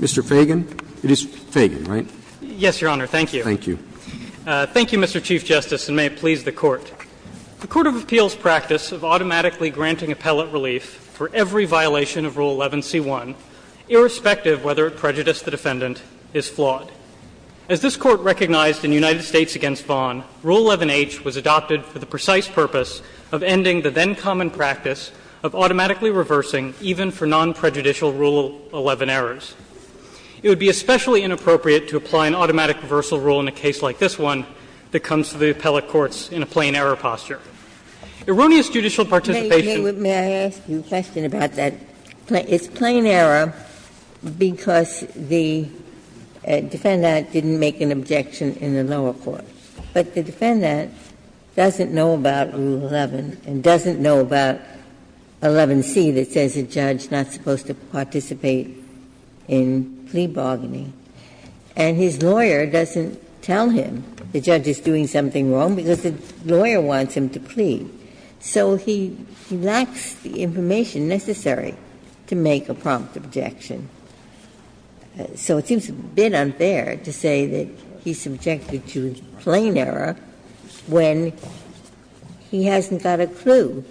Mr. Fagan? It is Fagan, right? Yes, Your Honor. Thank you. Thank you. Thank you, Mr. Chief Justice, and may it please the Court. The Court of Appeals' practice of automatically granting appellate relief for every violation of Rule 11c1, irrespective of whether it prejudiced the defendant, is flawed. As this Court recognized in United States v. Vaughan, Rule 11h was adopted for the precise purpose of eliminating the defendant from the United States. It was the practice of ending the then-common practice of automatically reversing even for non-prejudicial Rule 11 errors. It would be especially inappropriate to apply an automatic reversal rule in a case like this one that comes to the appellate courts in a plain error posture. Erroneous judicial participation of the defendant in the lower courts is flawed. May I ask you a question about that? It's plain error because the defendant didn't make an objection in the lower courts. But the defendant doesn't know about Rule 11 and doesn't know about 11c that says a judge is not supposed to participate in plea bargaining. And his lawyer doesn't tell him the judge is doing something wrong because the lawyer wants him to plea. So he lacks the information necessary to make a prompt objection. So it seems a bit unfair to say that he's subjected to a plain error when he hasn't got a clue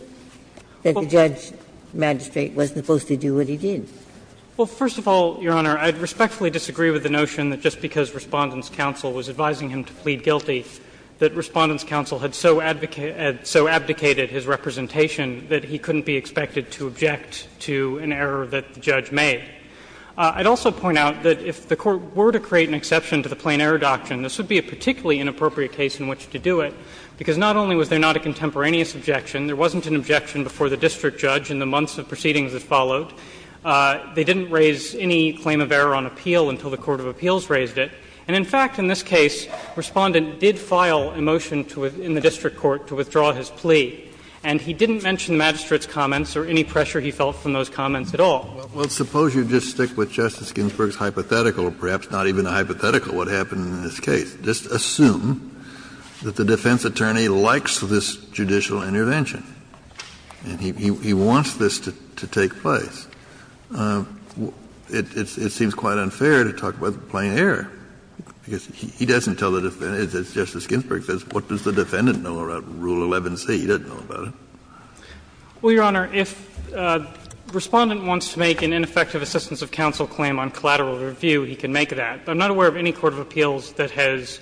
that the judge magistrate wasn't supposed to do what he did. Well, first of all, Your Honor, I respectfully disagree with the notion that just because Respondent's counsel was advising him to plead guilty, that Respondent's counsel had so abdicated his representation that he couldn't be expected to object to an error that the judge made. I would also point out that if the Court were to create an exception to the plain error doctrine, this would be a particularly inappropriate case in which to do it, because not only was there not a contemporaneous objection, there wasn't an objection before the district judge in the months of proceedings that followed. They didn't raise any claim of error on appeal until the court of appeals raised it. And in fact, in this case, Respondent did file a motion in the district court to withdraw his plea. And he didn't mention the magistrate's comments or any pressure he felt from those comments at all. Kennedy, Well, suppose you just stick with Justice Ginsburg's hypothetical, or perhaps not even a hypothetical, what happened in this case. Just assume that the defense attorney likes this judicial intervention and he wants this to take place. It seems quite unfair to talk about the plain error, because he doesn't tell the defendant is, as Justice Ginsburg says, what does the defendant know about Rule 11c? He doesn't know about it. Well, Your Honor, if Respondent wants to make an ineffective assistance of counsel claim on collateral review, he can make that. I'm not aware of any court of appeals that has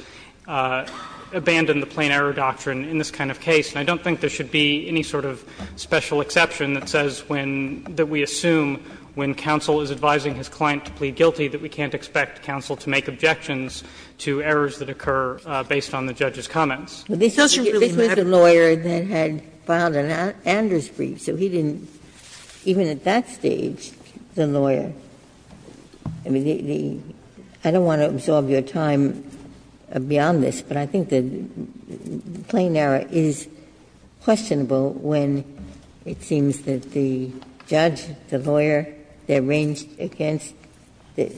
abandoned the plain error doctrine in this kind of case. And I don't think there should be any sort of special exception that says when we assume when counsel is advising his client to plead guilty that we can't expect counsel to make objections to errors that occur based on the judge's comments. Ginsburg, This was the lawyer that had filed an Anders brief, so he didn't, even at that stage, the lawyer. I mean, the – I don't want to absorb your time beyond this, but I think the plain error is questionable when it seems that the judge, the lawyer, they're ranged against the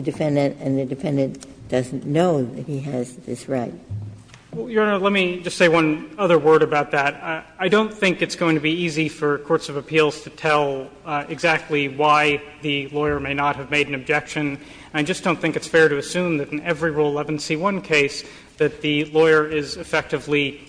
defendant, and the defendant doesn't know that he has this right. Well, Your Honor, let me just say one other word about that. I don't think it's going to be easy for courts of appeals to tell exactly why the lawyer may not have made an objection. I just don't think it's fair to assume that in every Rule 11c1 case that the lawyer is effectively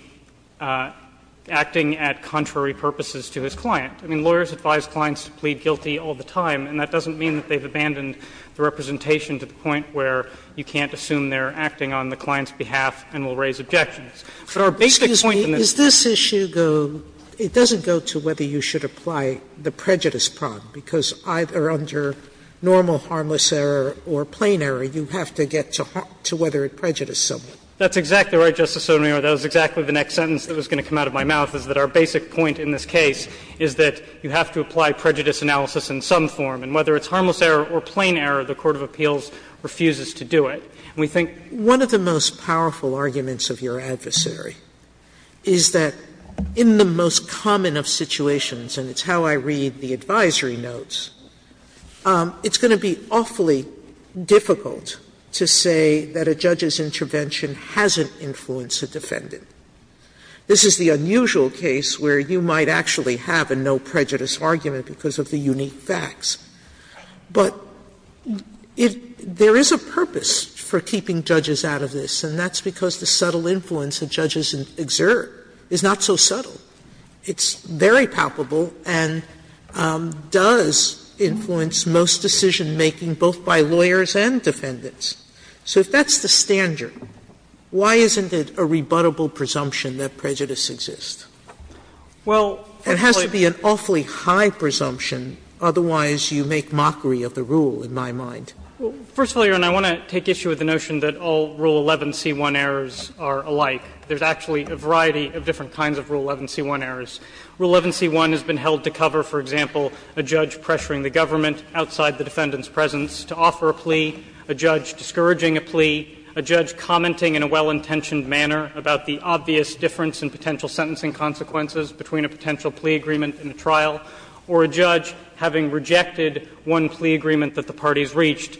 acting at contrary purposes to his client. I mean, lawyers advise clients to plead guilty all the time, and that doesn't mean that they've abandoned the representation to the point where you can't assume they're acting on the client's behalf and will raise objections. But our basic point in this case is that the client has made an objection. Sotomayor, it doesn't go to whether you should apply the prejudice problem, because either under normal harmless error or plain error, you have to get to whether it prejudiced someone. That's exactly right, Justice Sotomayor. That was exactly the next sentence that was going to come out of my mouth, is that our basic point in this case is that you have to apply prejudice analysis in some form, and whether it's harmless error or plain error, the court of appeals refuses to do it. Sotomayor, I think one of the most powerful arguments of your adversary is that in the most common of situations, and it's how I read the advisory notes, it's going to be awfully difficult to say that a judge's intervention hasn't influenced a defendant. This is the unusual case where you might actually have a no prejudice argument because of the unique facts. But it – there is a purpose for keeping judges out of this, and that's because the subtle influence that judges exert is not so subtle. It's very palpable and does influence most decision-making, both by lawyers and defendants. So if that's the standard, why isn't it a rebuttable presumption that prejudice exists? Well, first of all, Your Honor, I want to take issue with the notion that all Rule 11c1 errors are alike. There's actually a variety of different kinds of Rule 11c1 errors. Rule 11c1 has been held to cover, for example, a judge pressuring the government outside the defendant's presence to offer a plea, a judge discouraging a plea, a judge commenting in a well-intentioned manner about the obvious difference in potential sentencing consequences between a potential plea agreement and a trial, or a judge having rejected one plea agreement that the parties reached,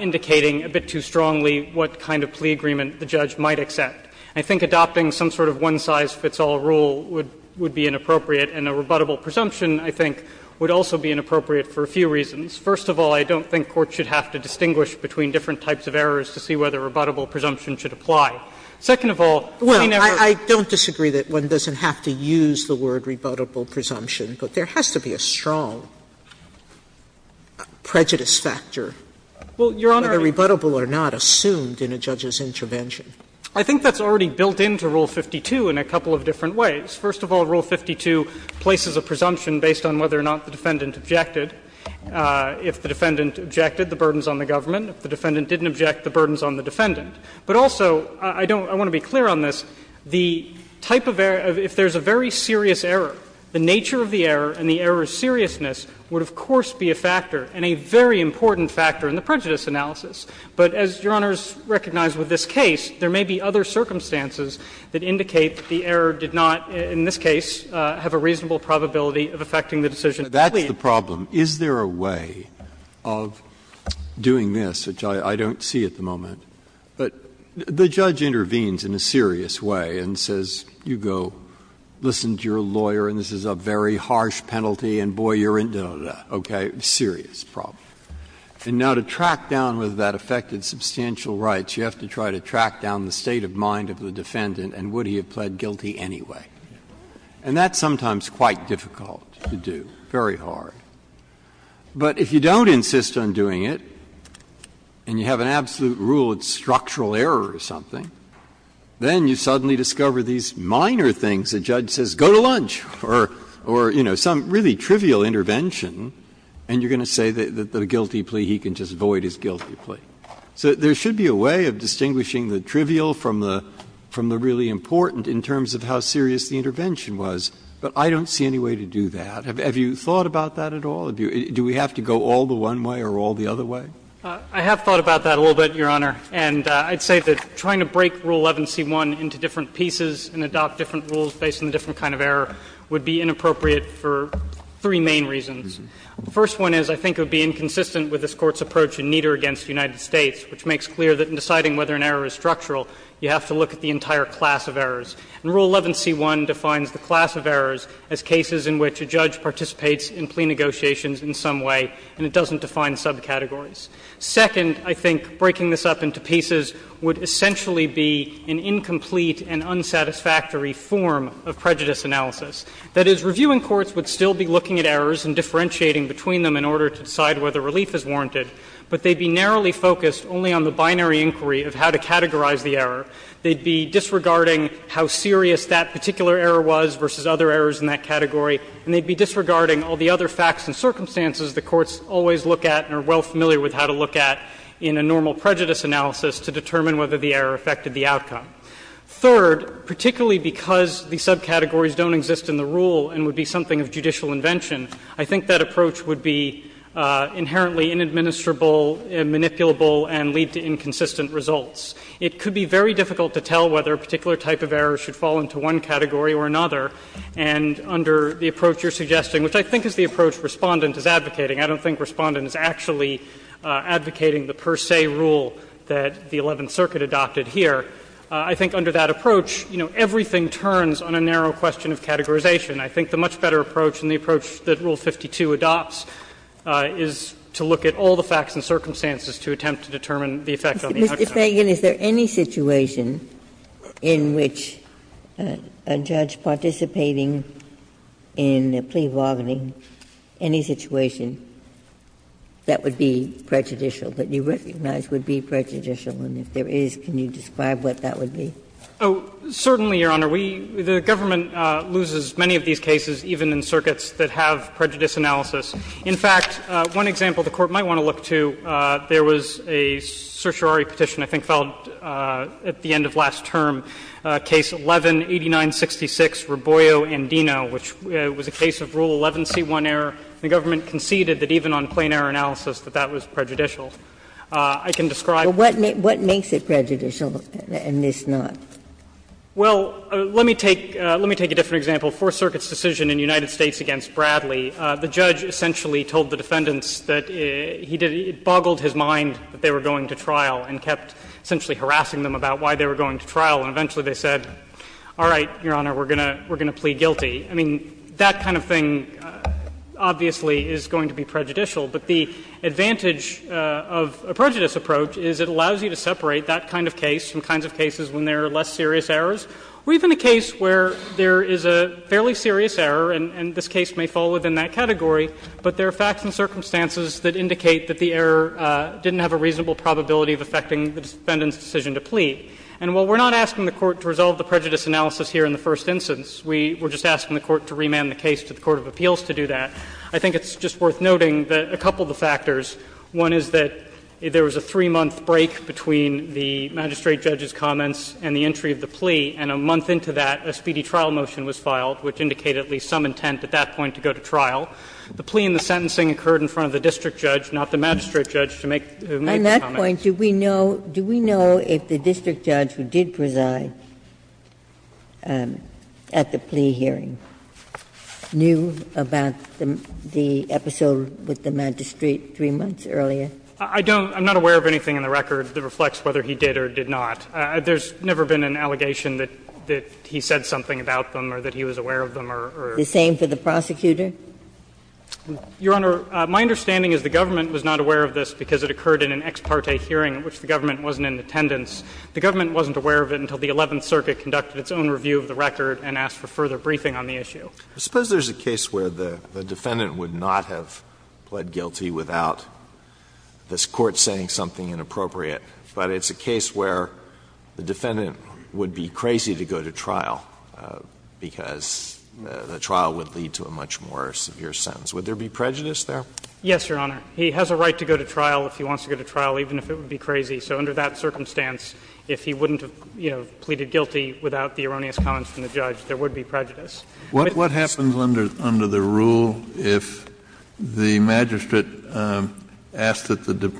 indicating a bit too strongly what kind of plea agreement the judge might accept. I think adopting some sort of one-size-fits-all rule would be inappropriate, and a rebuttable presumption, I think, would also be inappropriate for a few reasons. First of all, I don't think courts should have to distinguish between different types of errors to see whether rebuttable presumption should apply. Sotomayor doesn't have to use the word rebuttable presumption, but there has to be a strong prejudice factor, whether rebuttable or not, assumed in a judge's intervention. I think that's already built into Rule 52 in a couple of different ways. First of all, Rule 52 places a presumption based on whether or not the defendant objected. If the defendant objected, the burden is on the government. If the defendant didn't object, the burden is on the defendant. But also, I don't – I want to be clear on this. The type of error – if there's a very serious error, the nature of the error and the error's seriousness would, of course, be a factor and a very important factor in the prejudice analysis. But as Your Honors recognize with this case, there may be other circumstances that indicate that the error did not, in this case, have a reasonable probability of affecting the decision. Breyer. That's the problem. Is there a way of doing this, which I don't see at the moment, but the judge intervenes in a serious way and says, you go listen to your lawyer and this is a very harsh penalty and, boy, you're in, da, da, da, okay? Serious problem. And now to track down whether that affected substantial rights, you have to try to track down the state of mind of the defendant and would he have pled guilty anyway. And that's sometimes quite difficult to do, very hard. But if you don't insist on doing it and you have an absolute rule of structural error or something, then you suddenly discover these minor things. The judge says, go to lunch, or, you know, some really trivial intervention and you're going to say that the guilty plea he can just void is guilty plea. So there should be a way of distinguishing the trivial from the really important in terms of how serious the intervention was. But I don't see any way to do that. Have you thought about that at all? Do we have to go all the one way or all the other way? I have thought about that a little bit, Your Honor. And I'd say that trying to break Rule 11c1 into different pieces and adopt different rules based on a different kind of error would be inappropriate for three main reasons. The first one is I think it would be inconsistent with this Court's approach in Nieder v. United States, which makes clear that in deciding whether an error is structural, you have to look at the entire class of errors. And Rule 11c1 defines the class of errors as cases in which a judge participates in plea negotiations in some way and it doesn't define subcategories. Second, I think breaking this up into pieces would essentially be an incomplete and unsatisfactory form of prejudice analysis. That is, reviewing courts would still be looking at errors and differentiating between them in order to decide whether relief is warranted, but they'd be narrowly focused only on the binary inquiry of how to categorize the error. They'd be disregarding how serious that particular error was versus other errors in that category, and they'd be disregarding all the other facts and circumstances the courts always look at and are well familiar with how to look at in a normal prejudice analysis to determine whether the error affected the outcome. Third, particularly because the subcategories don't exist in the rule and would be something of judicial invention, I think that approach would be inherently inadministrable, manipulable, and lead to inconsistent results. It could be very difficult to tell whether a particular type of error should fall into one category or another, and under the approach you're suggesting, which I think is the approach Respondent is advocating. I don't think Respondent is actually advocating the per se rule that the Eleventh Circuit adopted here. I think under that approach, you know, everything turns on a narrow question of categorization. I think the much better approach and the approach that Rule 52 adopts is to look at all the facts and circumstances to attempt to determine the effect on the outcome. Ginsburg. Ginsburg. Mr. Feigin, is there any situation in which a judge participating in a plea bargaining, any situation that would be prejudicial, that you recognize would be prejudicial, and if there is, can you describe what that would be? Feigin. Oh, certainly, Your Honor. We — the government loses many of these cases, even in circuits that have prejudice analysis. In fact, one example the Court might want to look to, there was a certiorari petition I think filed at the end of last term, Case 11-8966, Raboio and Dino, which was a case of Rule 11c1 error. The government conceded that even on plain error analysis that that was prejudicial. I can describe— Ginsburg. What makes it prejudicial and this not? Feigin. Well, let me take a different example. Fourth Circuit's decision in the United States against Bradley, the judge essentially told the defendants that he did — it boggled his mind that they were going to trial and kept essentially harassing them about why they were going to trial. And eventually they said, all right, Your Honor, we're going to plead guilty. I mean, that kind of thing obviously is going to be prejudicial. But the advantage of a prejudice approach is it allows you to separate that kind of case from kinds of cases when there are less serious errors, or even a case where there is a fairly serious error, and this case may fall within that category, but there are facts and circumstances that indicate that the error didn't have a reasonable probability of affecting the defendant's decision to plead. And while we're not asking the Court to resolve the prejudice analysis here in the first instance, we're just asking the Court to remand the case to the court of appeals to do that. I think it's just worth noting that a couple of the factors, one is that there was a three-month break between the magistrate judge's comments and the entry of the plea, and a month into that a speedy trial motion was filed, which indicated at least some intent at that point to go to trial. The plea and the sentencing occurred in front of the district judge, not the magistrate judge, to make the comments. Ginsburg. On that point, do we know — do we know if the district judge who did preside at the plea hearing knew about the episode with the magistrate three months earlier? I don't — I'm not aware of anything in the record that reflects whether he did or did not. There's never been an allegation that he said something about them or that he was aware of them or — The same for the prosecutor? Your Honor, my understanding is the government was not aware of this because it occurred in an ex parte hearing in which the government wasn't in attendance. The government wasn't aware of it until the Eleventh Circuit conducted its own review of the record and asked for further briefing on the issue. Suppose there's a case where the defendant would not have pled guilty without this Court saying something inappropriate, but it's a case where the defendant would be crazy to go to trial because the trial would lead to a much more severe sentence. Would there be prejudice there? Yes, Your Honor. He has a right to go to trial if he wants to go to trial, even if it would be crazy. So under that circumstance, if he wouldn't have, you know, pleaded guilty without the erroneous comments from the judge, there would be prejudice. Kennedy, what happens under — under the rule if the magistrate asks that the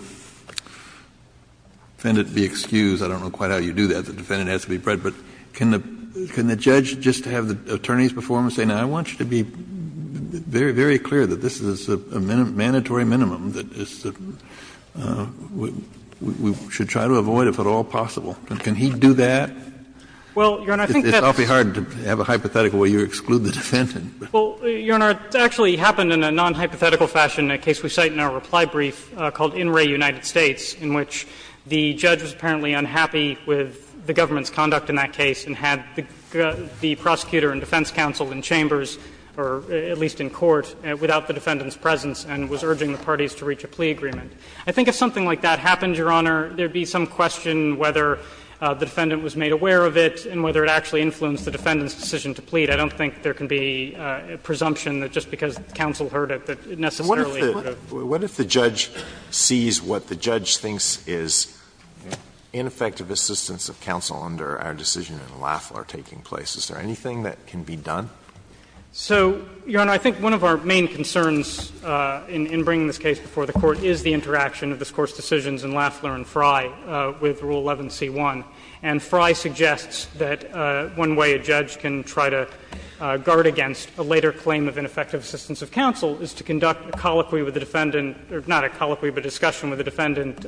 defendant be excused? I don't know quite how you do that. The defendant has to be — but can the — can the judge just have the attorneys before him and say, now, I want you to be very, very clear that this is a mandatory minimum that is — that we should try to avoid, if at all possible? Can he do that? Well, Your Honor, I think that's — It's awfully hard to have a hypothetical where you exclude the defendant. Well, Your Honor, it actually happened in a nonhypothetical fashion, a case we cite in our reply brief called In Re United States, in which the judge was apparently unhappy with the government's conduct in that case and had the prosecutor and defense counsel in chambers, or at least in court, without the defendant's parties, to reach a plea agreement. I think if something like that happened, Your Honor, there would be some question whether the defendant was made aware of it and whether it actually influenced the defendant's decision to plead. I don't think there can be presumption that just because counsel heard it that it necessarily would have. What if the judge sees what the judge thinks is ineffective assistance of counsel under our decision in Lafleur taking place? Is there anything that can be done? So, Your Honor, I think one of our main concerns in bringing this case before the Court is the interaction of this Court's decisions in Lafleur and Frye with Rule 11c1. And Frye suggests that one way a judge can try to guard against a later claim of ineffective assistance of counsel is to conduct a colloquy with the defendant — or not a colloquy, but a discussion with the defendant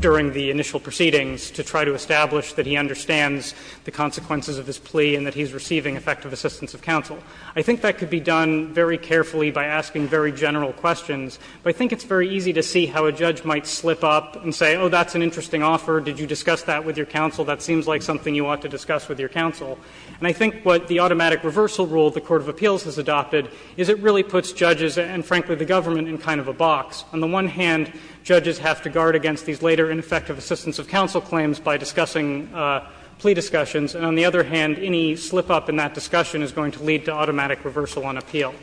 during the initial proceedings to try to establish that he understands the consequences of his plea and that he's receiving effective assistance of counsel. I think that could be done very carefully by asking very general questions. But I think it's very easy to see how a judge might slip up and say, oh, that's an interesting offer. Did you discuss that with your counsel? That seems like something you ought to discuss with your counsel. And I think what the automatic reversal rule the Court of Appeals has adopted is it really puts judges and, frankly, the government in kind of a box. On the one hand, judges have to guard against these later ineffective assistance of counsel claims by discussing plea discussions. And on the other hand, any slip-up in that discussion is going to lead to automatic reversal on appeal.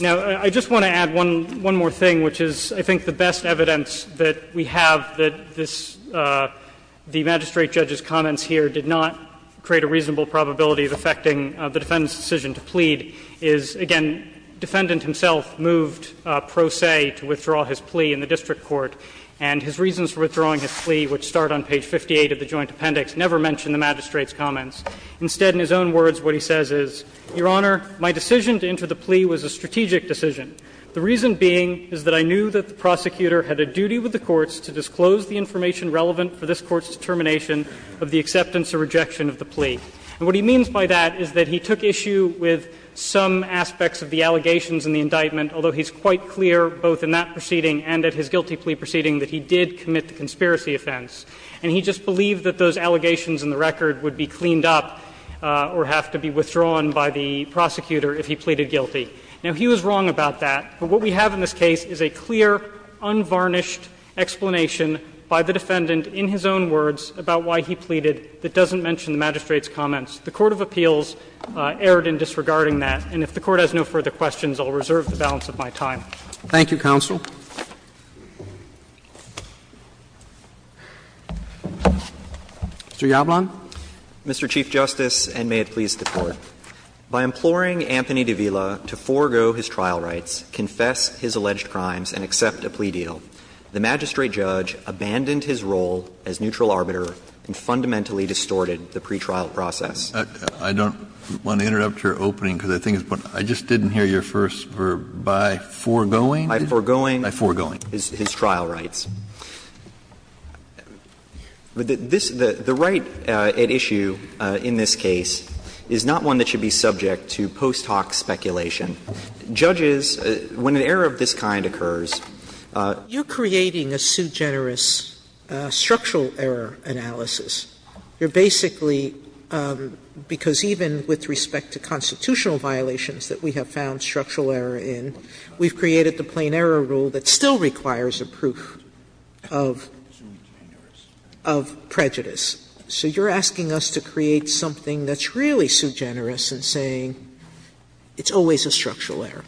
Now, I just want to add one more thing, which is, I think, the best evidence that we have that this — the magistrate judge's comments here did not create a reasonable probability of affecting the defendant's decision to plead is, again, defendant himself moved pro se to withdraw his plea in the district court. And his reasons for withdrawing his plea, which start on page 58 of the Joint Appendix, never mention the magistrate's comments. Instead, in his own words, what he says is, Your Honor, my decision to enter the plea was a strategic decision. The reason being is that I knew that the prosecutor had a duty with the courts to disclose the information relevant for this court's determination of the acceptance or rejection of the plea. And what he means by that is that he took issue with some aspects of the allegations in the indictment, although he's quite clear, both in that proceeding and at his guilty plea proceeding, that he did commit the conspiracy offense. And he just believed that those allegations in the record would be cleaned up or have to be withdrawn by the prosecutor if he pleaded guilty. Now, he was wrong about that, but what we have in this case is a clear, unvarnished explanation by the defendant in his own words about why he pleaded that doesn't mention the magistrate's comments. The court of appeals erred in disregarding that, and if the Court has no further questions, I'll reserve the balance of my time. Roberts. Thank you, counsel. Mr. Yablon. Mr. Chief Justice, and may it please the Court. By imploring Anthony de Villa to forego his trial rights, confess his alleged crimes, and accept a plea deal, the magistrate judge abandoned his role as neutral arbiter and fundamentally distorted the pretrial process. I didn't hear your first verb, by foregoing? By foregoing. By foregoing. His trial rights. The right at issue in this case is not one that should be subject to post hoc speculation. Judges, when an error of this kind occurs, you're creating a sugenerous structural error analysis. You're basically, because even with respect to constitutional violations that we have found structural error in, we've created the plain error rule that still requires a proof of prejudice. So you're asking us to create something that's really sugenerous and saying it's always a structural error.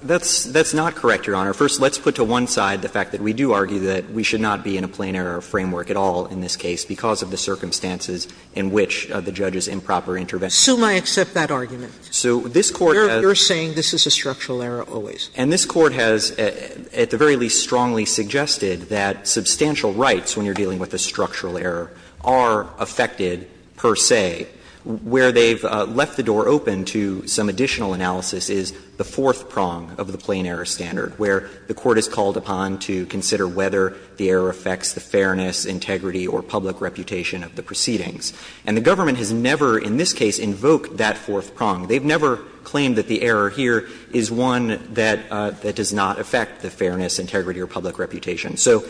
That's not correct, Your Honor. First, let's put to one side the fact that we do argue that we should not be in a plain error framework at all in this case because of the circumstances in which the judge's improper intervention. Assume I accept that argument. So this Court has. You're saying this is a structural error always. And this Court has, at the very least, strongly suggested that substantial rights when you're dealing with a structural error are affected per se. Where they've left the door open to some additional analysis is the fourth prong of the plain error standard, where the Court is called upon to consider whether the error affects the fairness, integrity, or public reputation of the proceedings. And the government has never in this case invoked that fourth prong. They've never claimed that the error here is one that does not affect the fairness, integrity, or public reputation. So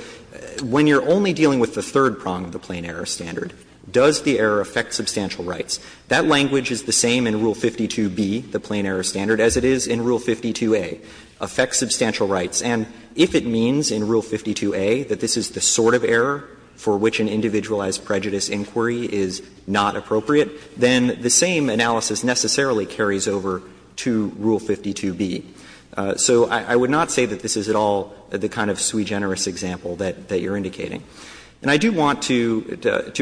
when you're only dealing with the third prong of the plain error standard, does the error affect substantial rights? That language is the same in Rule 52b, the plain error standard, as it is in Rule 52a, affects substantial rights. And if it means in Rule 52a that this is the sort of error for which an individualized that carries over to Rule 52b. So I would not say that this is at all the kind of sui generis example that you're indicating. And I do want to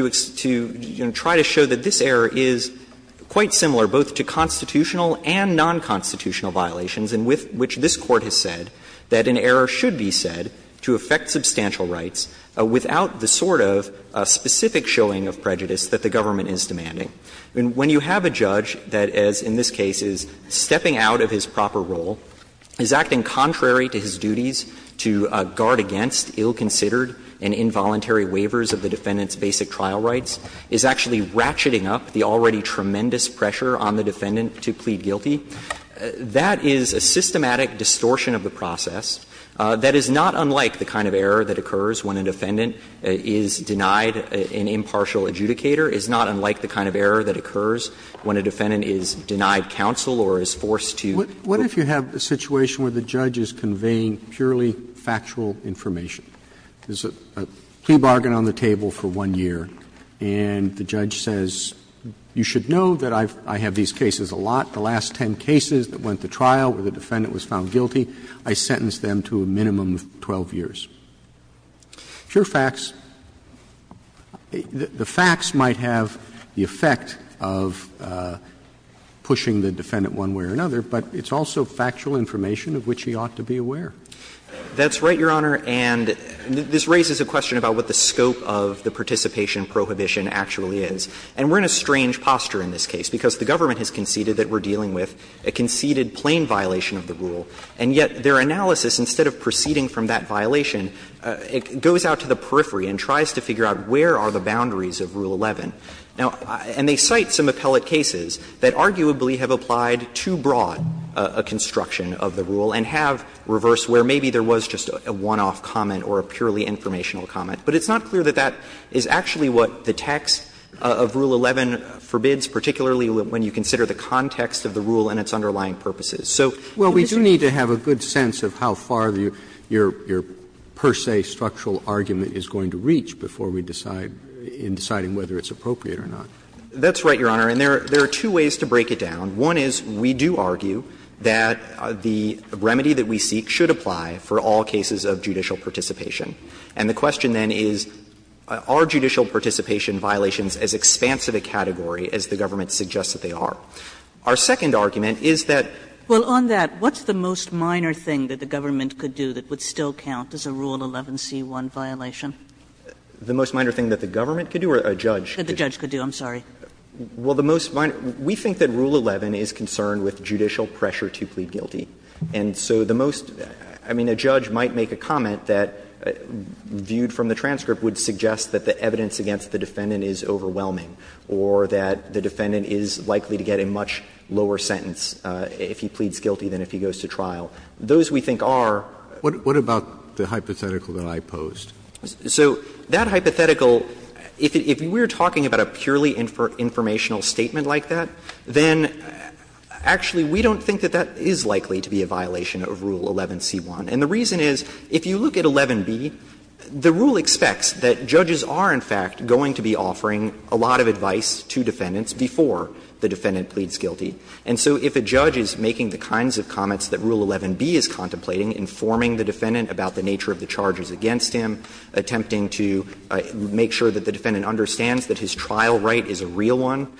try to show that this error is quite similar, both to constitutional and nonconstitutional violations, in which this Court has said that an error should be said to affect substantial rights without the sort of specific showing of prejudice that the government is demanding. When you have a judge that, as in this case, is stepping out of his proper role, is acting contrary to his duties to guard against ill-considered and involuntary waivers of the defendant's basic trial rights, is actually ratcheting up the already tremendous pressure on the defendant to plead guilty, that is a systematic distortion of the process that is not unlike the kind of error that occurs when a defendant is denied an impartial adjudicator, is not unlike the kind of error that occurs when a defendant is denied counsel or is forced to. Roberts What if you have a situation where the judge is conveying purely factual information? There's a plea bargain on the table for one year, and the judge says, you should know that I have these cases a lot. The last ten cases that went to trial where the defendant was found guilty, I sentenced them to a minimum of 12 years. Pure facts, the facts might have the effect of pushing the defendant one way or another, but it's also factual information of which he ought to be aware. That's right, Your Honor, and this raises a question about what the scope of the participation prohibition actually is. And we're in a strange posture in this case, because the government has conceded that we're dealing with a conceded plain violation of the rule, and yet their analysis, instead of proceeding from that violation, it goes out to the periphery and tries to figure out where are the boundaries of Rule 11. Now, and they cite some appellate cases that arguably have applied too broad a construction of the rule and have reversed where maybe there was just a one-off comment or a purely informational comment. But it's not clear that that is actually what the text of Rule 11 forbids, particularly when you consider the context of the rule and its underlying purposes. So in this case, it's not clear. Roberts, we do need to have a good sense of how far your per se structural argument is going to reach before we decide, in deciding whether it's appropriate or not. That's right, Your Honor, and there are two ways to break it down. One is we do argue that the remedy that we seek should apply for all cases of judicial participation. And the question then is are judicial participation violations as expansive a category as the government suggests that they are? Our second argument is that Well, on that, what's the most minor thing that the government could do that would still count as a Rule 11c1 violation? The most minor thing that the government could do or a judge could do? That the judge could do. I'm sorry. Well, the most minor we think that Rule 11 is concerned with judicial pressure to plead guilty. And so the most, I mean, a judge might make a comment that, viewed from the transcript, would suggest that the evidence against the defendant is overwhelming or that the defendant would get a much lower sentence if he pleads guilty than if he goes to trial. Those we think are What about the hypothetical that I posed? So that hypothetical, if we're talking about a purely informational statement like that, then actually we don't think that that is likely to be a violation of Rule 11c1. And the reason is, if you look at 11b, the rule expects that judges are, in fact, going to be offering a lot of advice to defendants before the defendant pleads guilty. And so if a judge is making the kinds of comments that Rule 11b is contemplating, informing the defendant about the nature of the charges against him, attempting to make sure that the defendant understands that his trial right is a real one,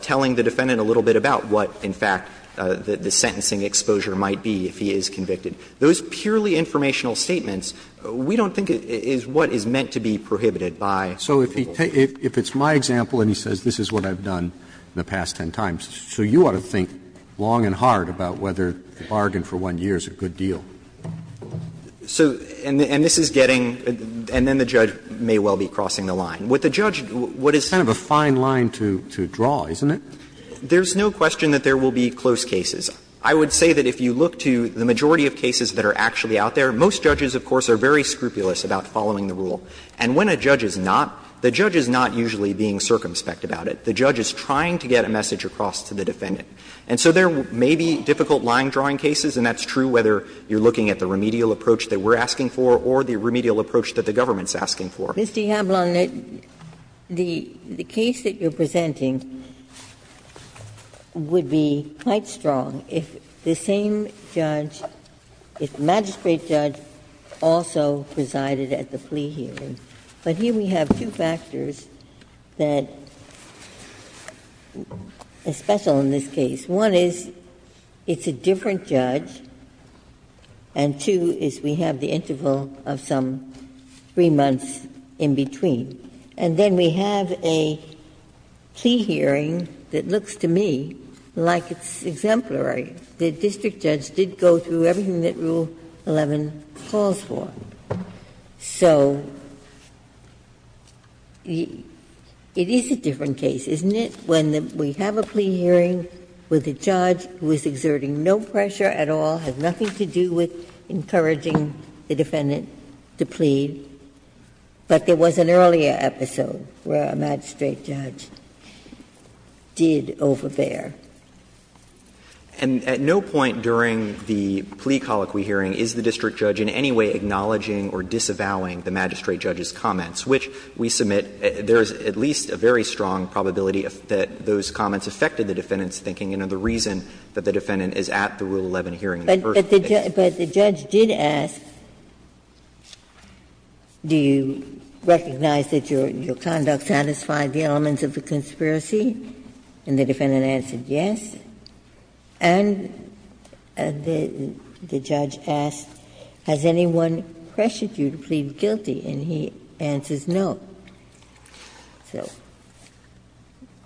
telling the defendant a little bit about what, in fact, the sentencing exposure might be if he is convicted, those purely informational statements, we don't think is what is meant to be prohibited by Rule 11c1. Roberts If it's my example and he says this is what I've done in the past 10 times, so you ought to think long and hard about whether the bargain for 1 year is a good deal. And this is getting, and then the judge may well be crossing the line. What the judge, what is It's kind of a fine line to draw, isn't it? There's no question that there will be close cases. I would say that if you look to the majority of cases that are actually out there, most judges, of course, are very scrupulous about following the rule. And when a judge is not, the judge is not usually being circumspect about it. The judge is trying to get a message across to the defendant. And so there may be difficult line-drawing cases, and that's true whether you're looking at the remedial approach that we're asking for or the remedial approach that the government is asking for. Ginsburg Mr. Hamlin, the case that you're presenting would be quite strong if the same judge the magistrate judge also presided at the plea hearing. But here we have two factors that are special in this case. One is it's a different judge, and two is we have the interval of some 3 months in between. And then we have a plea hearing that looks to me like it's exemplary. The district judge did go through everything that Rule 11 calls for. So it is a different case, isn't it, when we have a plea hearing with a judge who is exerting no pressure at all, has nothing to do with encouraging the defendant to plead, but there was an earlier episode where a magistrate judge did overbear. And at no point during the plea colloquy hearing is the district judge in any way acknowledging or disavowing the magistrate judge's comments, which we submit there is at least a very strong probability that those comments affected the defendant's thinking and are the reason that the defendant is at the Rule 11 hearing. Ginsburg But the judge did ask, do you recognize that your conduct satisfied the elements of the conspiracy? And the defendant answered yes. And the judge asked, has anyone pressured you to plead guilty? And he answers no. So.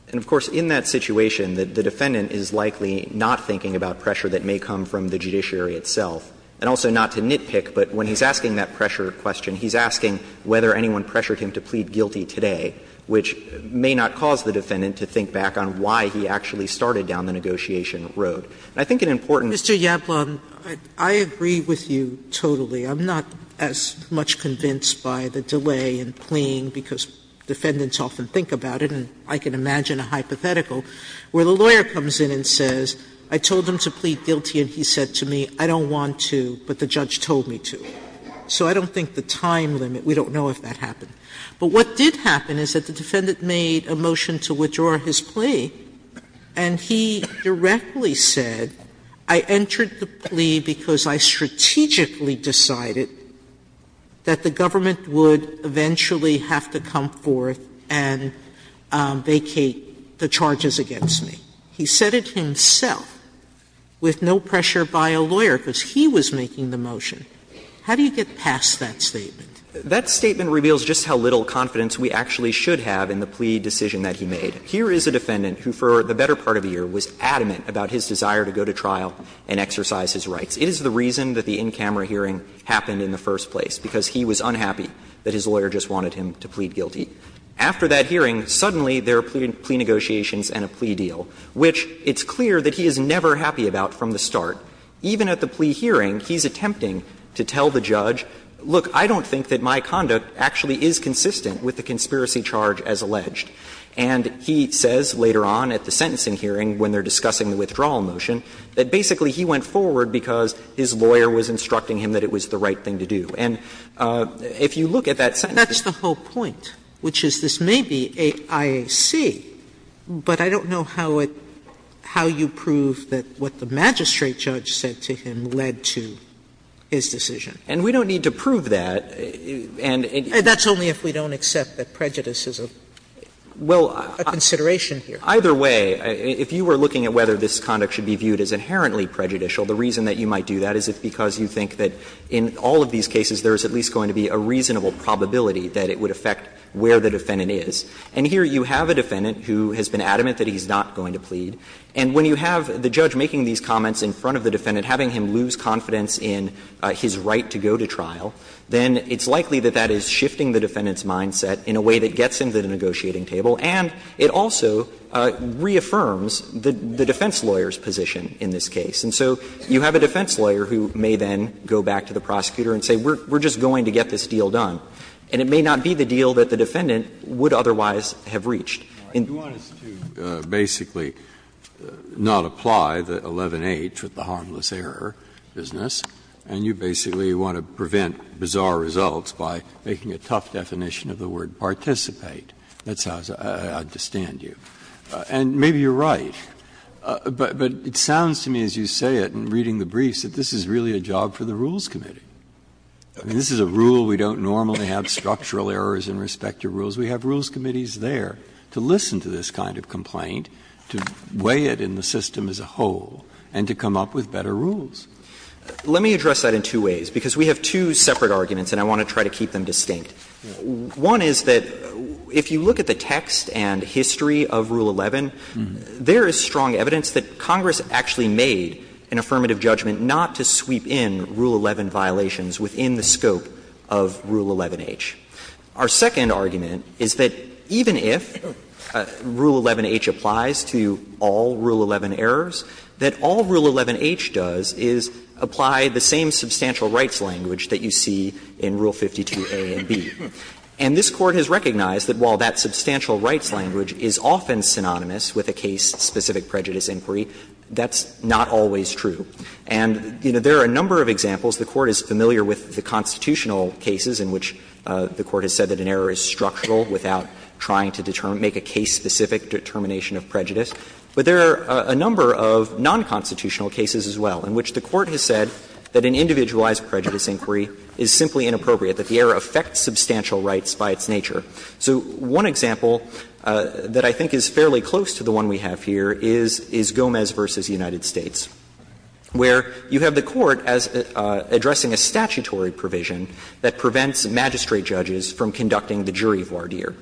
And, of course, in that situation, the defendant is likely not thinking about pressure that may come from the judiciary itself, and also not to nitpick. But when he's asking that pressure question, he's asking whether anyone pressured him to plead guilty today, which may not cause the defendant to think back on why he actually started down the negotiation road. And I think an important Sotomayor Mr. Yablon, I agree with you totally. I'm not as much convinced by the delay in pleading, because defendants often think about it, and I can imagine a hypothetical where the lawyer comes in and says, I told him to plead guilty and he said to me, I don't want to, but the judge told me to. So I don't think the time limit, we don't know if that happened. But what did happen is that the defendant made a motion to withdraw his plea, and he directly said, I entered the plea because I strategically decided that the government would eventually have to come forth and vacate the charges against me. He said it himself, with no pressure by a lawyer, because he was making the motion. How do you get past that statement? That statement reveals just how little confidence we actually should have in the plea decision that he made. Here is a defendant who, for the better part of a year, was adamant about his desire to go to trial and exercise his rights. It is the reason that the in-camera hearing happened in the first place, because he was unhappy that his lawyer just wanted him to plead guilty. After that hearing, suddenly there are plea negotiations and a plea deal, which it's clear that he is never happy about from the start. Even at the plea hearing, he's attempting to tell the judge, look, I don't think that my conduct actually is consistent with the conspiracy charge as alleged. And he says later on at the sentencing hearing, when they are discussing the withdrawal motion, that basically he went forward because his lawyer was instructing him that it was the right thing to do. And if you look at that sentencing hearing, that's the whole point, which is, this may be IAC, but I don't know how it – how you prove that what the magistrate judge said to him led to his decision. And we don't need to prove that. Sotomayor, that's only if we don't accept that prejudice is a consideration here. Well, either way, if you were looking at whether this conduct should be viewed as inherently prejudicial, the reason that you might do that is because you think that in all of these cases there is at least going to be a reasonable probability that it would affect where the defendant is. And here you have a defendant who has been adamant that he's not going to plead. And when you have the judge making these comments in front of the defendant, having him lose confidence in his right to go to trial, then it's likely that that is shifting the defendant's mindset in a way that gets him to the negotiating table, and it also reaffirms the defense lawyer's position in this case. And so you have a defense lawyer who may then go back to the prosecutor and say, we're just going to get this deal done, and it may not be the deal that the defendant would otherwise have reached. Breyer, you want us to basically not apply the 11-H with the harmless error business, and you basically want to prevent bizarre results by making a tough definition of the word participate. That's how I understand you. And maybe you're right, but it sounds to me as you say it in reading the briefs that this is really a job for the Rules Committee. I mean, this is a rule. We don't normally have structural errors in respect to rules. We have Rules Committees there to listen to this kind of complaint, to weigh it in the system as a whole, and to come up with better rules. Let me address that in two ways, because we have two separate arguments, and I want to try to keep them distinct. One is that if you look at the text and history of Rule 11, there is strong evidence that Congress actually made an affirmative judgment not to sweep in Rule 11 violations within the scope of Rule 11-H. Our second argument is that even if Rule 11-H applies to all Rule 11 errors, that all Rule 11-H does is apply the same substantial rights language that you see in Rule 52a and b. And this Court has recognized that while that substantial rights language is often synonymous with a case-specific prejudice inquiry, that's not always true. For instance, the Court is familiar with the constitutional cases in which the Court has said that an error is structural without trying to make a case-specific determination of prejudice. But there are a number of nonconstitutional cases as well in which the Court has said that an individualized prejudice inquiry is simply inappropriate, that the error affects substantial rights by its nature. So one example that I think is fairly close to the one we have here is Gomez v. United States, addressing a statutory provision that prevents magistrate judges from conducting the jury voir dire.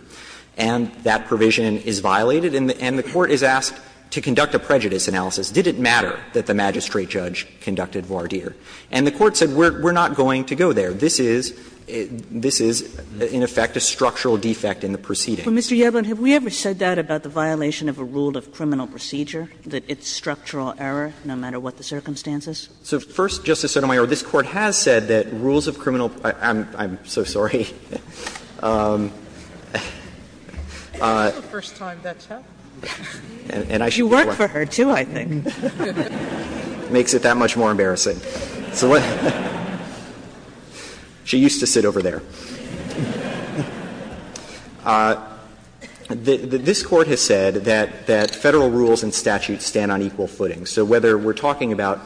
And that provision is violated, and the Court is asked to conduct a prejudice analysis. Did it matter that the magistrate judge conducted voir dire? And the Court said, we're not going to go there. This is – this is, in effect, a structural defect in the proceedings. Kagan. Kagan. But, Mr. Yevlin, have we ever said that about the violation of a rule of criminal procedure, that it's structural error no matter what the circumstances? So, first, Justice Sotomayor, this Court has said that rules of criminal – I'm so sorry. First time that's happened. You work for her, too, I think. Makes it that much more embarrassing. She used to sit over there. This Court has said that Federal rules and statutes stand on equal footing. So whether we're talking about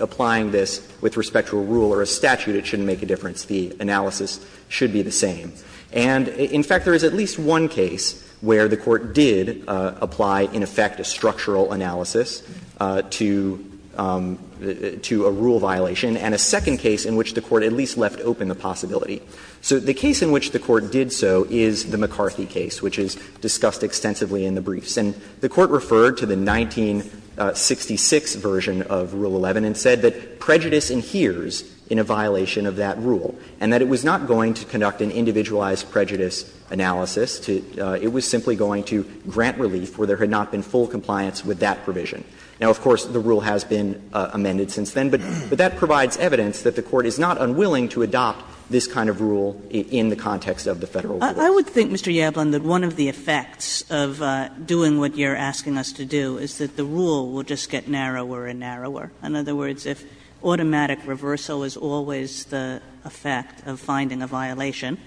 applying this with respect to a rule or a statute, it shouldn't make a difference. The analysis should be the same. And, in fact, there is at least one case where the Court did apply, in effect, a structural analysis to a rule violation, and a second case in which the Court at least left open the possibility. So the case in which the Court did so is the McCarthy case, which is discussed extensively in the briefs. And the Court referred to the 1966 version of Rule 11 and said that prejudice adheres in a violation of that rule, and that it was not going to conduct an individualized prejudice analysis. It was simply going to grant relief where there had not been full compliance with that provision. Now, of course, the rule has been amended since then, but that provides evidence that the Court is not unwilling to adopt this kind of rule in the context of the Federal rule. Kagan. Kagan. I would think, Mr. Yablon, that one of the effects of doing what you're asking us to do is that the rule will just get narrower and narrower. In other words, if automatic reversal is always the effect of finding a violation,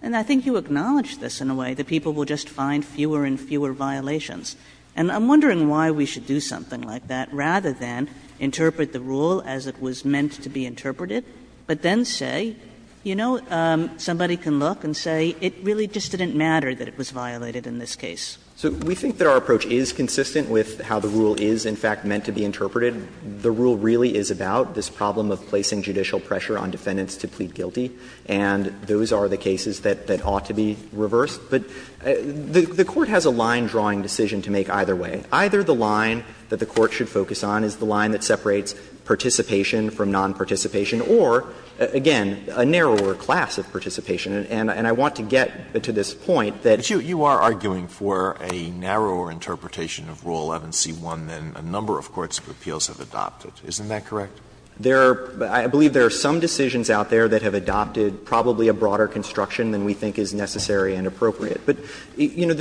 then I think you acknowledge this in a way, that people will just find fewer and fewer violations. And I'm wondering why we should do something like that, rather than interpret the rule as it was meant to be interpreted, but then say, you know, somebody can look and say, it really just didn't matter that it was violated in this case. So we think that our approach is consistent with how the rule is, in fact, meant to be interpreted. The rule really is about this problem of placing judicial pressure on defendants to plead guilty, and those are the cases that ought to be reversed. But the Court has a line-drawing decision to make either way. Either the line that the Court should focus on is the line that separates participation And I want to get to this point that Alitoso, you are arguing for a narrower interpretation of Rule 11c1 than a number of courts of appeals have adopted. Isn't that correct? There are – I believe there are some decisions out there that have adopted probably a broader construction than we think is necessary and appropriate. But, you know,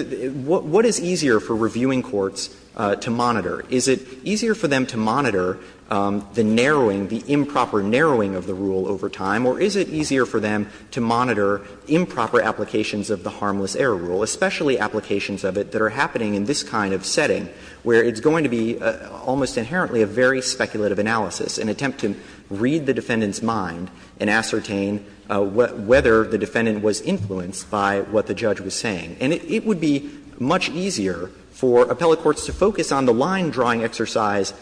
what is easier for reviewing courts to monitor? Is it easier for them to monitor the narrowing, the improper narrowing of the rule over time, or is it easier for them to monitor improper applications of the Harmless Error Rule, especially applications of it that are happening in this kind of setting, where it's going to be almost inherently a very speculative analysis, an attempt to read the defendant's mind and ascertain whether the defendant was influenced by what the judge was saying? And it would be much easier for appellate courts to focus on the line-drawing exercise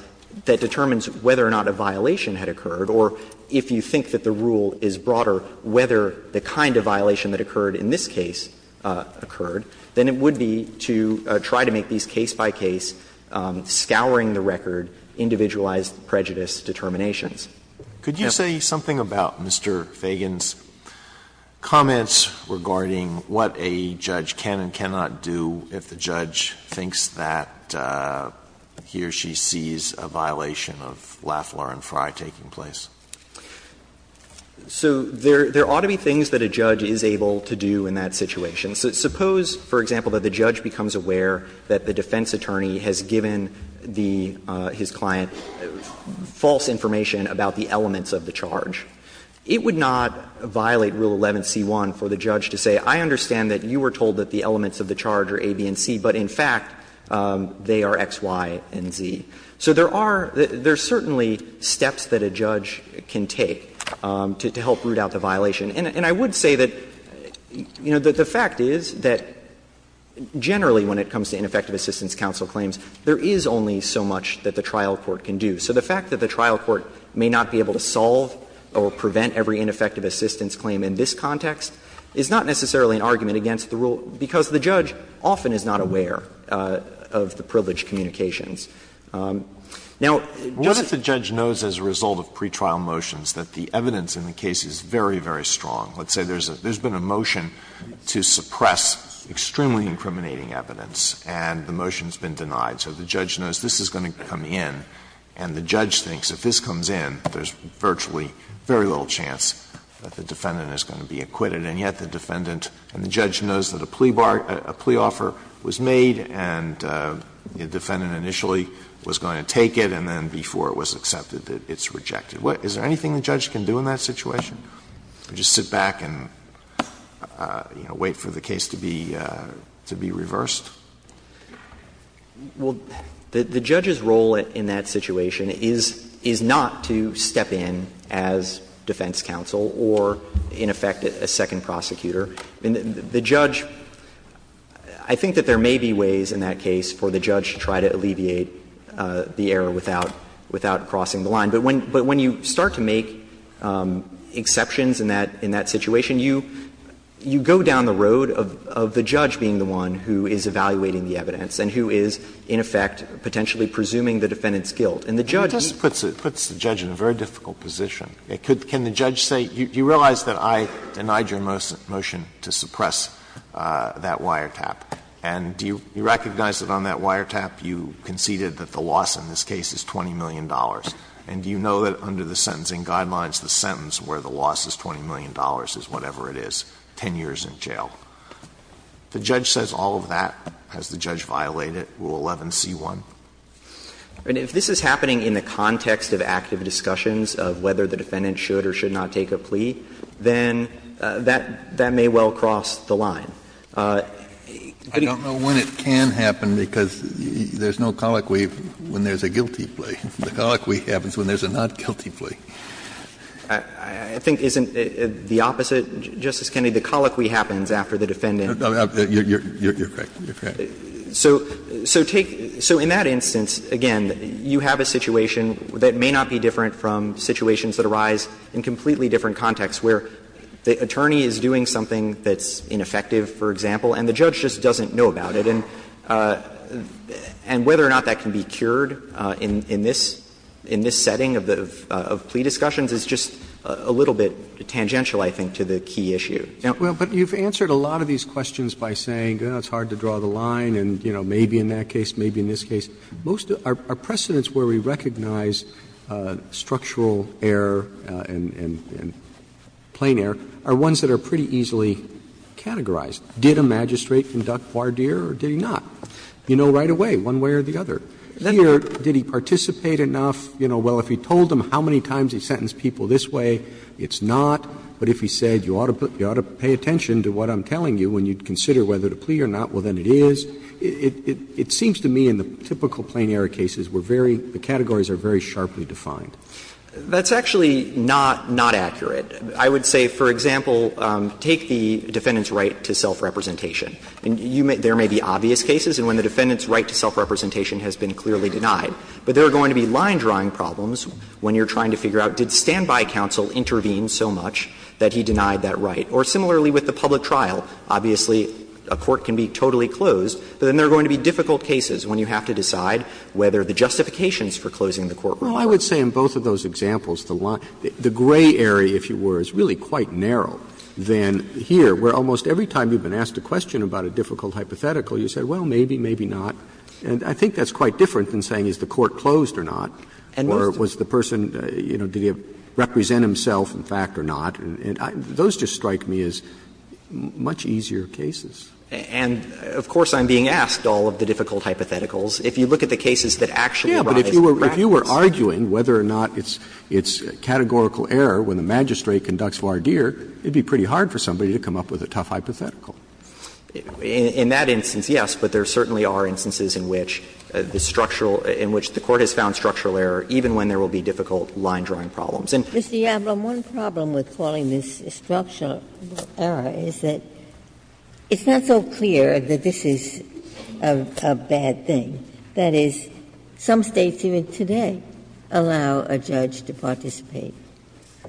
that determines whether or not a violation had occurred, or if you think that the rule is broader, whether the kind of violation that occurred in this case occurred, than it would be to try to make these case-by-case, scouring-the-record, individualized prejudice determinations. Alitoso, could you say something about Mr. Fagan's comments regarding what a judge can and cannot do if the judge thinks that he or she sees a violation of Lafleur and Frye taking place? So there ought to be things that a judge is able to do in that situation. Suppose, for example, that the judge becomes aware that the defense attorney has given the his client false information about the elements of the charge. It would not violate Rule 11c1 for the judge to say, I understand that you were told that the elements of the charge are A, B, and C, but in fact, they are X, Y, and Z. So there are certainly steps that a judge can take to help root out the violation. And I would say that, you know, the fact is that generally, when it comes to ineffective assistance counsel claims, there is only so much that the trial court can do. So the fact that the trial court may not be able to solve or prevent every ineffective assistance claim in this context is not necessarily an argument against the rule, because the judge often is not aware of the privileged communications. Now, just as a result of pretrial motions, that the evidence in the case is very, very strong. Let's say there's been a motion to suppress extremely incriminating evidence, and the motion has been denied. So the judge knows this is going to come in, and the judge thinks if this comes in, there's virtually very little chance that the defendant is going to be acquitted. And yet the defendant and the judge knows that a plea offer was made, and the defendant initially was going to take it, and then before it was accepted, it's rejected. Is there anything the judge can do in that situation, or just sit back and, you know, wait for the case to be reversed? Well, the judge's role in that situation is not to step in as defense counsel or, in effect, a second prosecutor. The judge – I think that there may be ways in that case for the judge to try to alleviate the error without crossing the line. But when you start to make exceptions in that situation, you go down the road of the judge being the one who is evaluating the evidence and who is, in effect, potentially presuming the defendant's guilt. And the judge can't do that. Alito, do you realize that I denied your motion to suppress that wiretap? And do you recognize that on that wiretap, you conceded that the loss in this case is $20 million? And do you know that under the sentencing guidelines, the sentence where the loss is $20 million is whatever it is, 10 years in jail? If the judge says all of that, has the judge violated Rule 11c1? I mean, if this is happening in the context of active discussions of whether the defendant should or should not take a plea, then that may well cross the line. Kennedy, I don't know when it can happen because there's no colloquy when there's a guilty plea. The colloquy happens when there's a not-guilty plea. I think, isn't it the opposite, Justice Kennedy? The colloquy happens after the defendant. You're correct. You're correct. So take – so in that instance, again, you have a situation that may not be different from situations that arise in completely different contexts, where the attorney is doing something that's ineffective, for example, and the judge just doesn't know about it. And whether or not that can be cured in this setting of plea discussions is just a little bit tangential, I think, to the key issue. Roberts, you've answered a lot of these questions by saying, well, it's hard to draw the line, and, you know, maybe in that case, maybe in this case. Most of our precedents where we recognize structural error and plain error are ones that are pretty easily categorized. Did a magistrate conduct voir dire or did he not? You know right away, one way or the other. Here, did he participate enough? You know, well, if he told them how many times he sentenced people this way, it's not. But if he said you ought to pay attention to what I'm telling you when you consider whether to plea or not, well, then it is. It seems to me in the typical plain error cases, we're very — the categories are very sharply defined. That's actually not accurate. I would say, for example, take the defendant's right to self-representation. There may be obvious cases, and when the defendant's right to self-representation has been clearly denied. But there are going to be line-drawing problems when you're trying to figure out, did standby counsel intervene so much that he denied that right? Or similarly with the public trial, obviously, a court can be totally closed, but then there are going to be difficult cases when you have to decide whether the justifications for closing the court were correct. Roberts, I would say in both of those examples, the gray area, if you were, is really quite narrow than here, where almost every time you've been asked a question about a difficult hypothetical, you say, well, maybe, maybe not. And I think that's quite different than saying is the court closed or not, or was the person, you know, did he represent himself in fact or not. And those just strike me as much easier cases. And, of course, I'm being asked all of the difficult hypotheticals. If you look at the cases that actually rise in practice. Yeah, but if you were arguing whether or not it's categorical error when the magistrate conducts voir dire, it would be pretty hard for somebody to come up with a tough hypothetical. In that instance, yes, but there certainly are instances in which the structural – in which the court has found structural error, even when there will be difficult line-drawing problems. Ginsburg. Mr. Yablon, one problem with calling this a structural error is that it's not so clear that this is a bad thing. That is, some States even today allow a judge to participate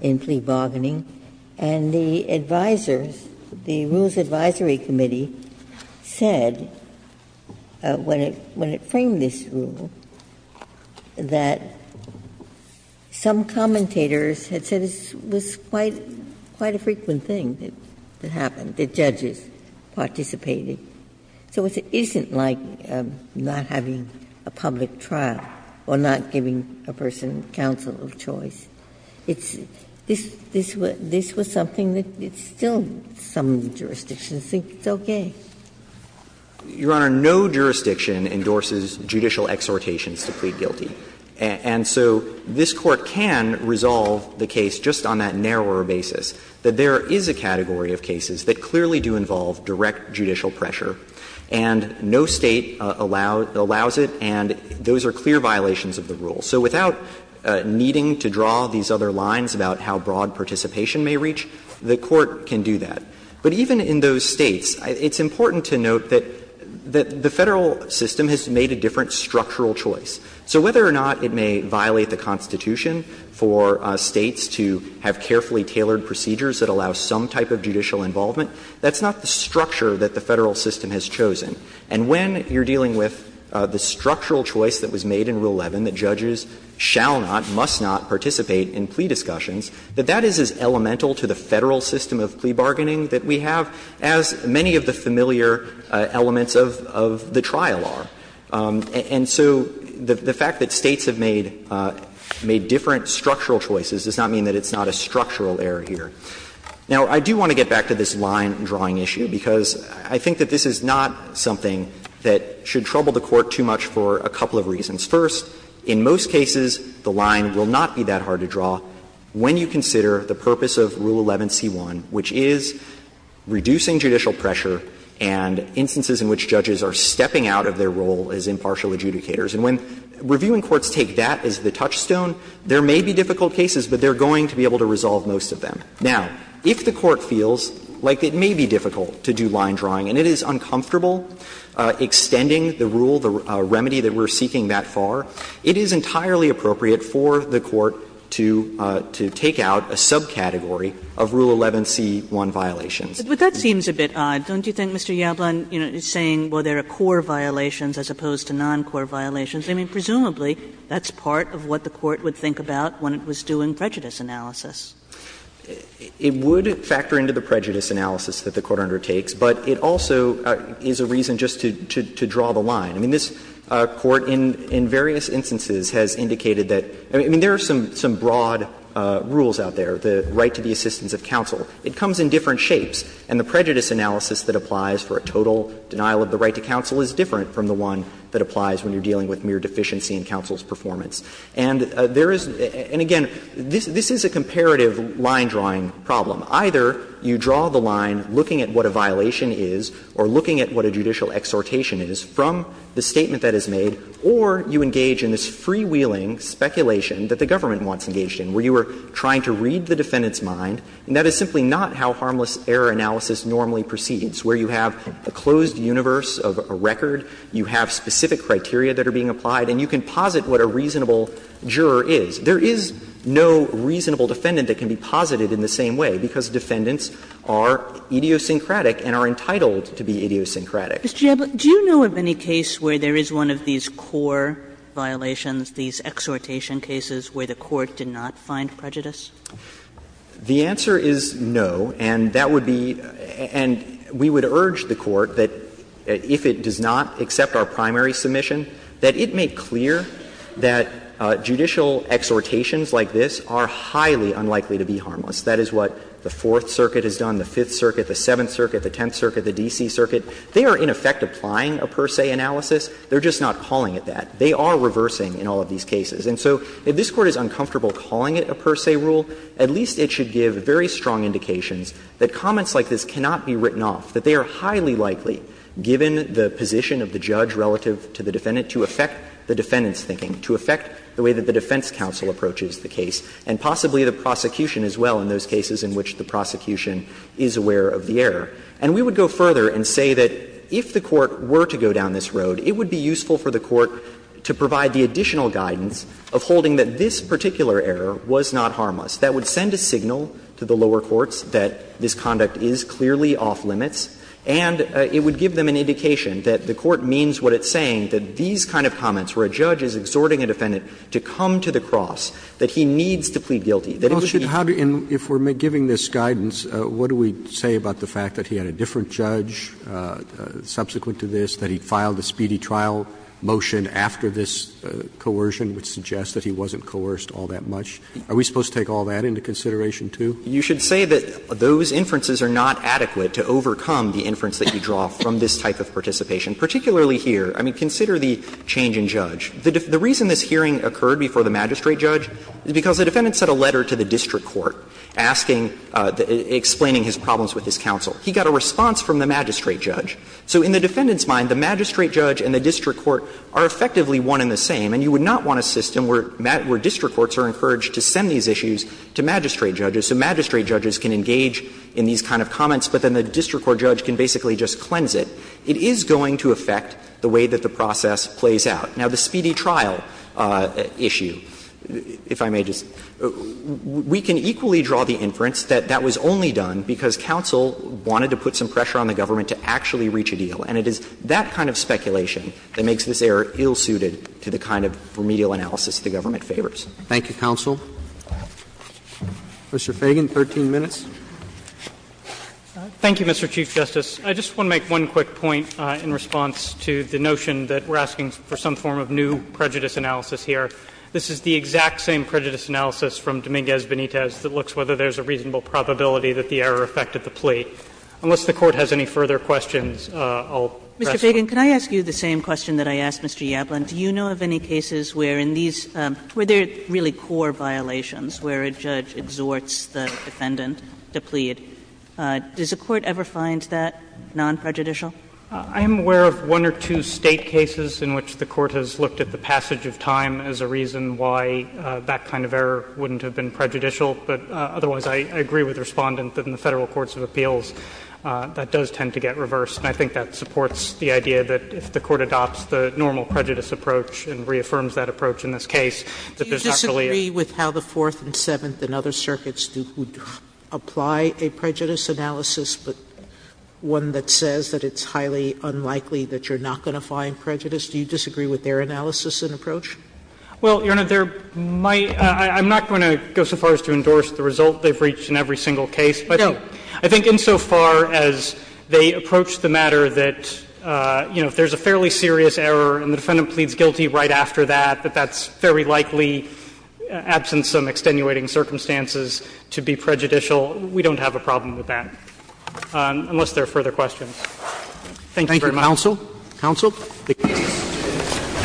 in plea bargaining. And the advisers, the Rules Advisory Committee, said when it framed this rule that some commentators had said it was quite a frequent thing that happened, that judges participated. So it isn't like not having a public trial or not giving a person counsel of choice. It's – this was something that still some jurisdictions think it's okay. Your Honor, no jurisdiction endorses judicial exhortations to plead guilty. And so this Court can resolve the case just on that narrower basis, that there is a category of cases that clearly do involve direct judicial pressure, and no State allows it, and those are clear violations of the rule. So without needing to draw these other lines about how broad participation may reach, the Court can do that. But even in those States, it's important to note that the Federal system has made a different structural choice. So whether or not it may violate the Constitution for States to have carefully tailored procedures that allow some type of judicial involvement, that's not the structure that the Federal system has chosen. And when you're dealing with the structural choice that was made in Rule 11, that judges shall not, must not participate in plea discussions, that that is as elemental to the Federal system of plea bargaining that we have, as many of the familiar elements of the trial are. And so the fact that States have made different structural choices does not mean that it's not a structural error here. Now, I do want to get back to this line-drawing issue, because I think that this is not something that should trouble the Court too much for a couple of reasons. First, in most cases, the line will not be that hard to draw when you consider the purpose of Rule 11c1, which is reducing judicial pressure and instances in which judges are stepping out of their role as impartial adjudicators. And when reviewing courts take that as the touchstone, there may be difficult cases, but they're going to be able to resolve most of them. Now, if the Court feels like it may be difficult to do line-drawing and it is uncomfortable extending the rule, the remedy that we're seeking that far, it is entirely appropriate for the Court to take out a subcategory of Rule 11c1 violations. Kagan But that seems a bit odd. Don't you think, Mr. Yablon, you know, saying, well, there are core violations as opposed to non-core violations? I mean, presumably, that's part of what the Court would think about when it was doing prejudice analysis. It would factor into the prejudice analysis that the Court undertakes, but it also is a reason just to draw the line. I mean, this Court in various instances has indicated that, I mean, there are some broad rules out there, the right to the assistance of counsel. It comes in different shapes, and the prejudice analysis that applies for a total denial of the right to counsel is different from the one that applies when you're dealing with mere deficiency in counsel's performance. And there is — and again, this is a comparative line-drawing problem. Either you draw the line looking at what a violation is or looking at what a judicial exhortation is from the statement that is made, or you engage in this freewheeling speculation that the government wants engaged in, where you are trying to read the defendant's mind, and that is simply not how harmless error analysis normally proceeds, where you have a closed universe of a record, you have specific criteria that are being applied, and you can posit what a reasonable juror is. There is no reasonable defendant that can be posited in the same way, because most defendants are idiosyncratic and are entitled to be idiosyncratic. Kagan Mr. Jablok, do you know of any case where there is one of these core violations, these exhortation cases, where the Court did not find prejudice? Jablok The answer is no, and that would be — and we would urge the Court that if it does not accept our primary submission, that it make clear that judicial exhortations like this are highly unlikely to be harmless. That is what the Fourth Circuit has done, the Fifth Circuit, the Seventh Circuit, the Tenth Circuit, the D.C. Circuit. They are, in effect, applying a per se analysis. They are just not calling it that. They are reversing in all of these cases. And so if this Court is uncomfortable calling it a per se rule, at least it should give very strong indications that comments like this cannot be written off, that they are highly likely, given the position of the judge relative to the defendant, to affect the defendant's thinking, to affect the way that the defense counsel approaches the case, and possibly the prosecution as well in those cases in which the prosecution is aware of the error. And we would go further and say that if the Court were to go down this road, it would be useful for the Court to provide the additional guidance of holding that this particular error was not harmless. That would send a signal to the lower courts that this conduct is clearly off limits, and it would give them an indication that the Court means what it's saying, that these kind of comments where a judge is exhorting a defendant to come to the cross, that he needs to plead guilty, that it would be helpful. Roberts, and if we're giving this guidance, what do we say about the fact that he had a different judge subsequent to this, that he filed a speedy trial motion after this coercion, which suggests that he wasn't coerced all that much? Are we supposed to take all that into consideration, too? You should say that those inferences are not adequate to overcome the inference that you draw from this type of participation, particularly here. I mean, consider the change in judge. The reason this hearing occurred before the magistrate judge is because the defendant sent a letter to the district court asking, explaining his problems with his counsel. He got a response from the magistrate judge. So in the defendant's mind, the magistrate judge and the district court are effectively one and the same, and you would not want a system where district courts are encouraged to send these issues to magistrate judges, so magistrate judges can engage in these kind of comments, but then the district court judge can basically just cleanse it. It is going to affect the way that the process plays out. Now, the speedy trial issue, if I may just, we can equally draw the inference that that was only done because counsel wanted to put some pressure on the government to actually reach a deal, and it is that kind of speculation that makes this error ill-suited to the kind of remedial analysis the government favors. Roberts. Thank you, counsel. Mr. Feigin, 13 minutes. Feigin. Thank you, Mr. Chief Justice. I just want to make one quick point in response to the notion that we are asking for some form of new prejudice analysis here. This is the exact same prejudice analysis from Dominguez-Benitez that looks whether there is a reasonable probability that the error affected the plea. Unless the Court has any further questions, I will rest. Kagan, can I ask you the same question that I asked Mr. Yablon? Do you know of any cases where in these – where there are really core violations, where a judge exhorts the defendant to plead? Does the Court ever find that non-prejudicial? Feigin. I am aware of one or two State cases in which the Court has looked at the passage of time as a reason why that kind of error wouldn't have been prejudicial. But otherwise, I agree with the Respondent that in the Federal courts of appeals that does tend to get reversed. And I think that supports the idea that if the Court adopts the normal prejudice approach and reaffirms that approach in this case, that there's actually a – Sotomayor, do you disagree with the State prejudice analysis, but one that says that it's highly unlikely that you're not going to find prejudice? Do you disagree with their analysis and approach? Well, Your Honor, there might – I'm not going to go so far as to endorse the result they've reached in every single case, but I think insofar as they approach the matter that, you know, if there's a fairly serious error and the defendant pleads guilty right after that, that that's very likely, absent some extenuating circumstances, to be prejudicial, we don't have a problem with that, unless there are further questions. Thank you very much. Thank you, counsel. Counsel. The case is submitted.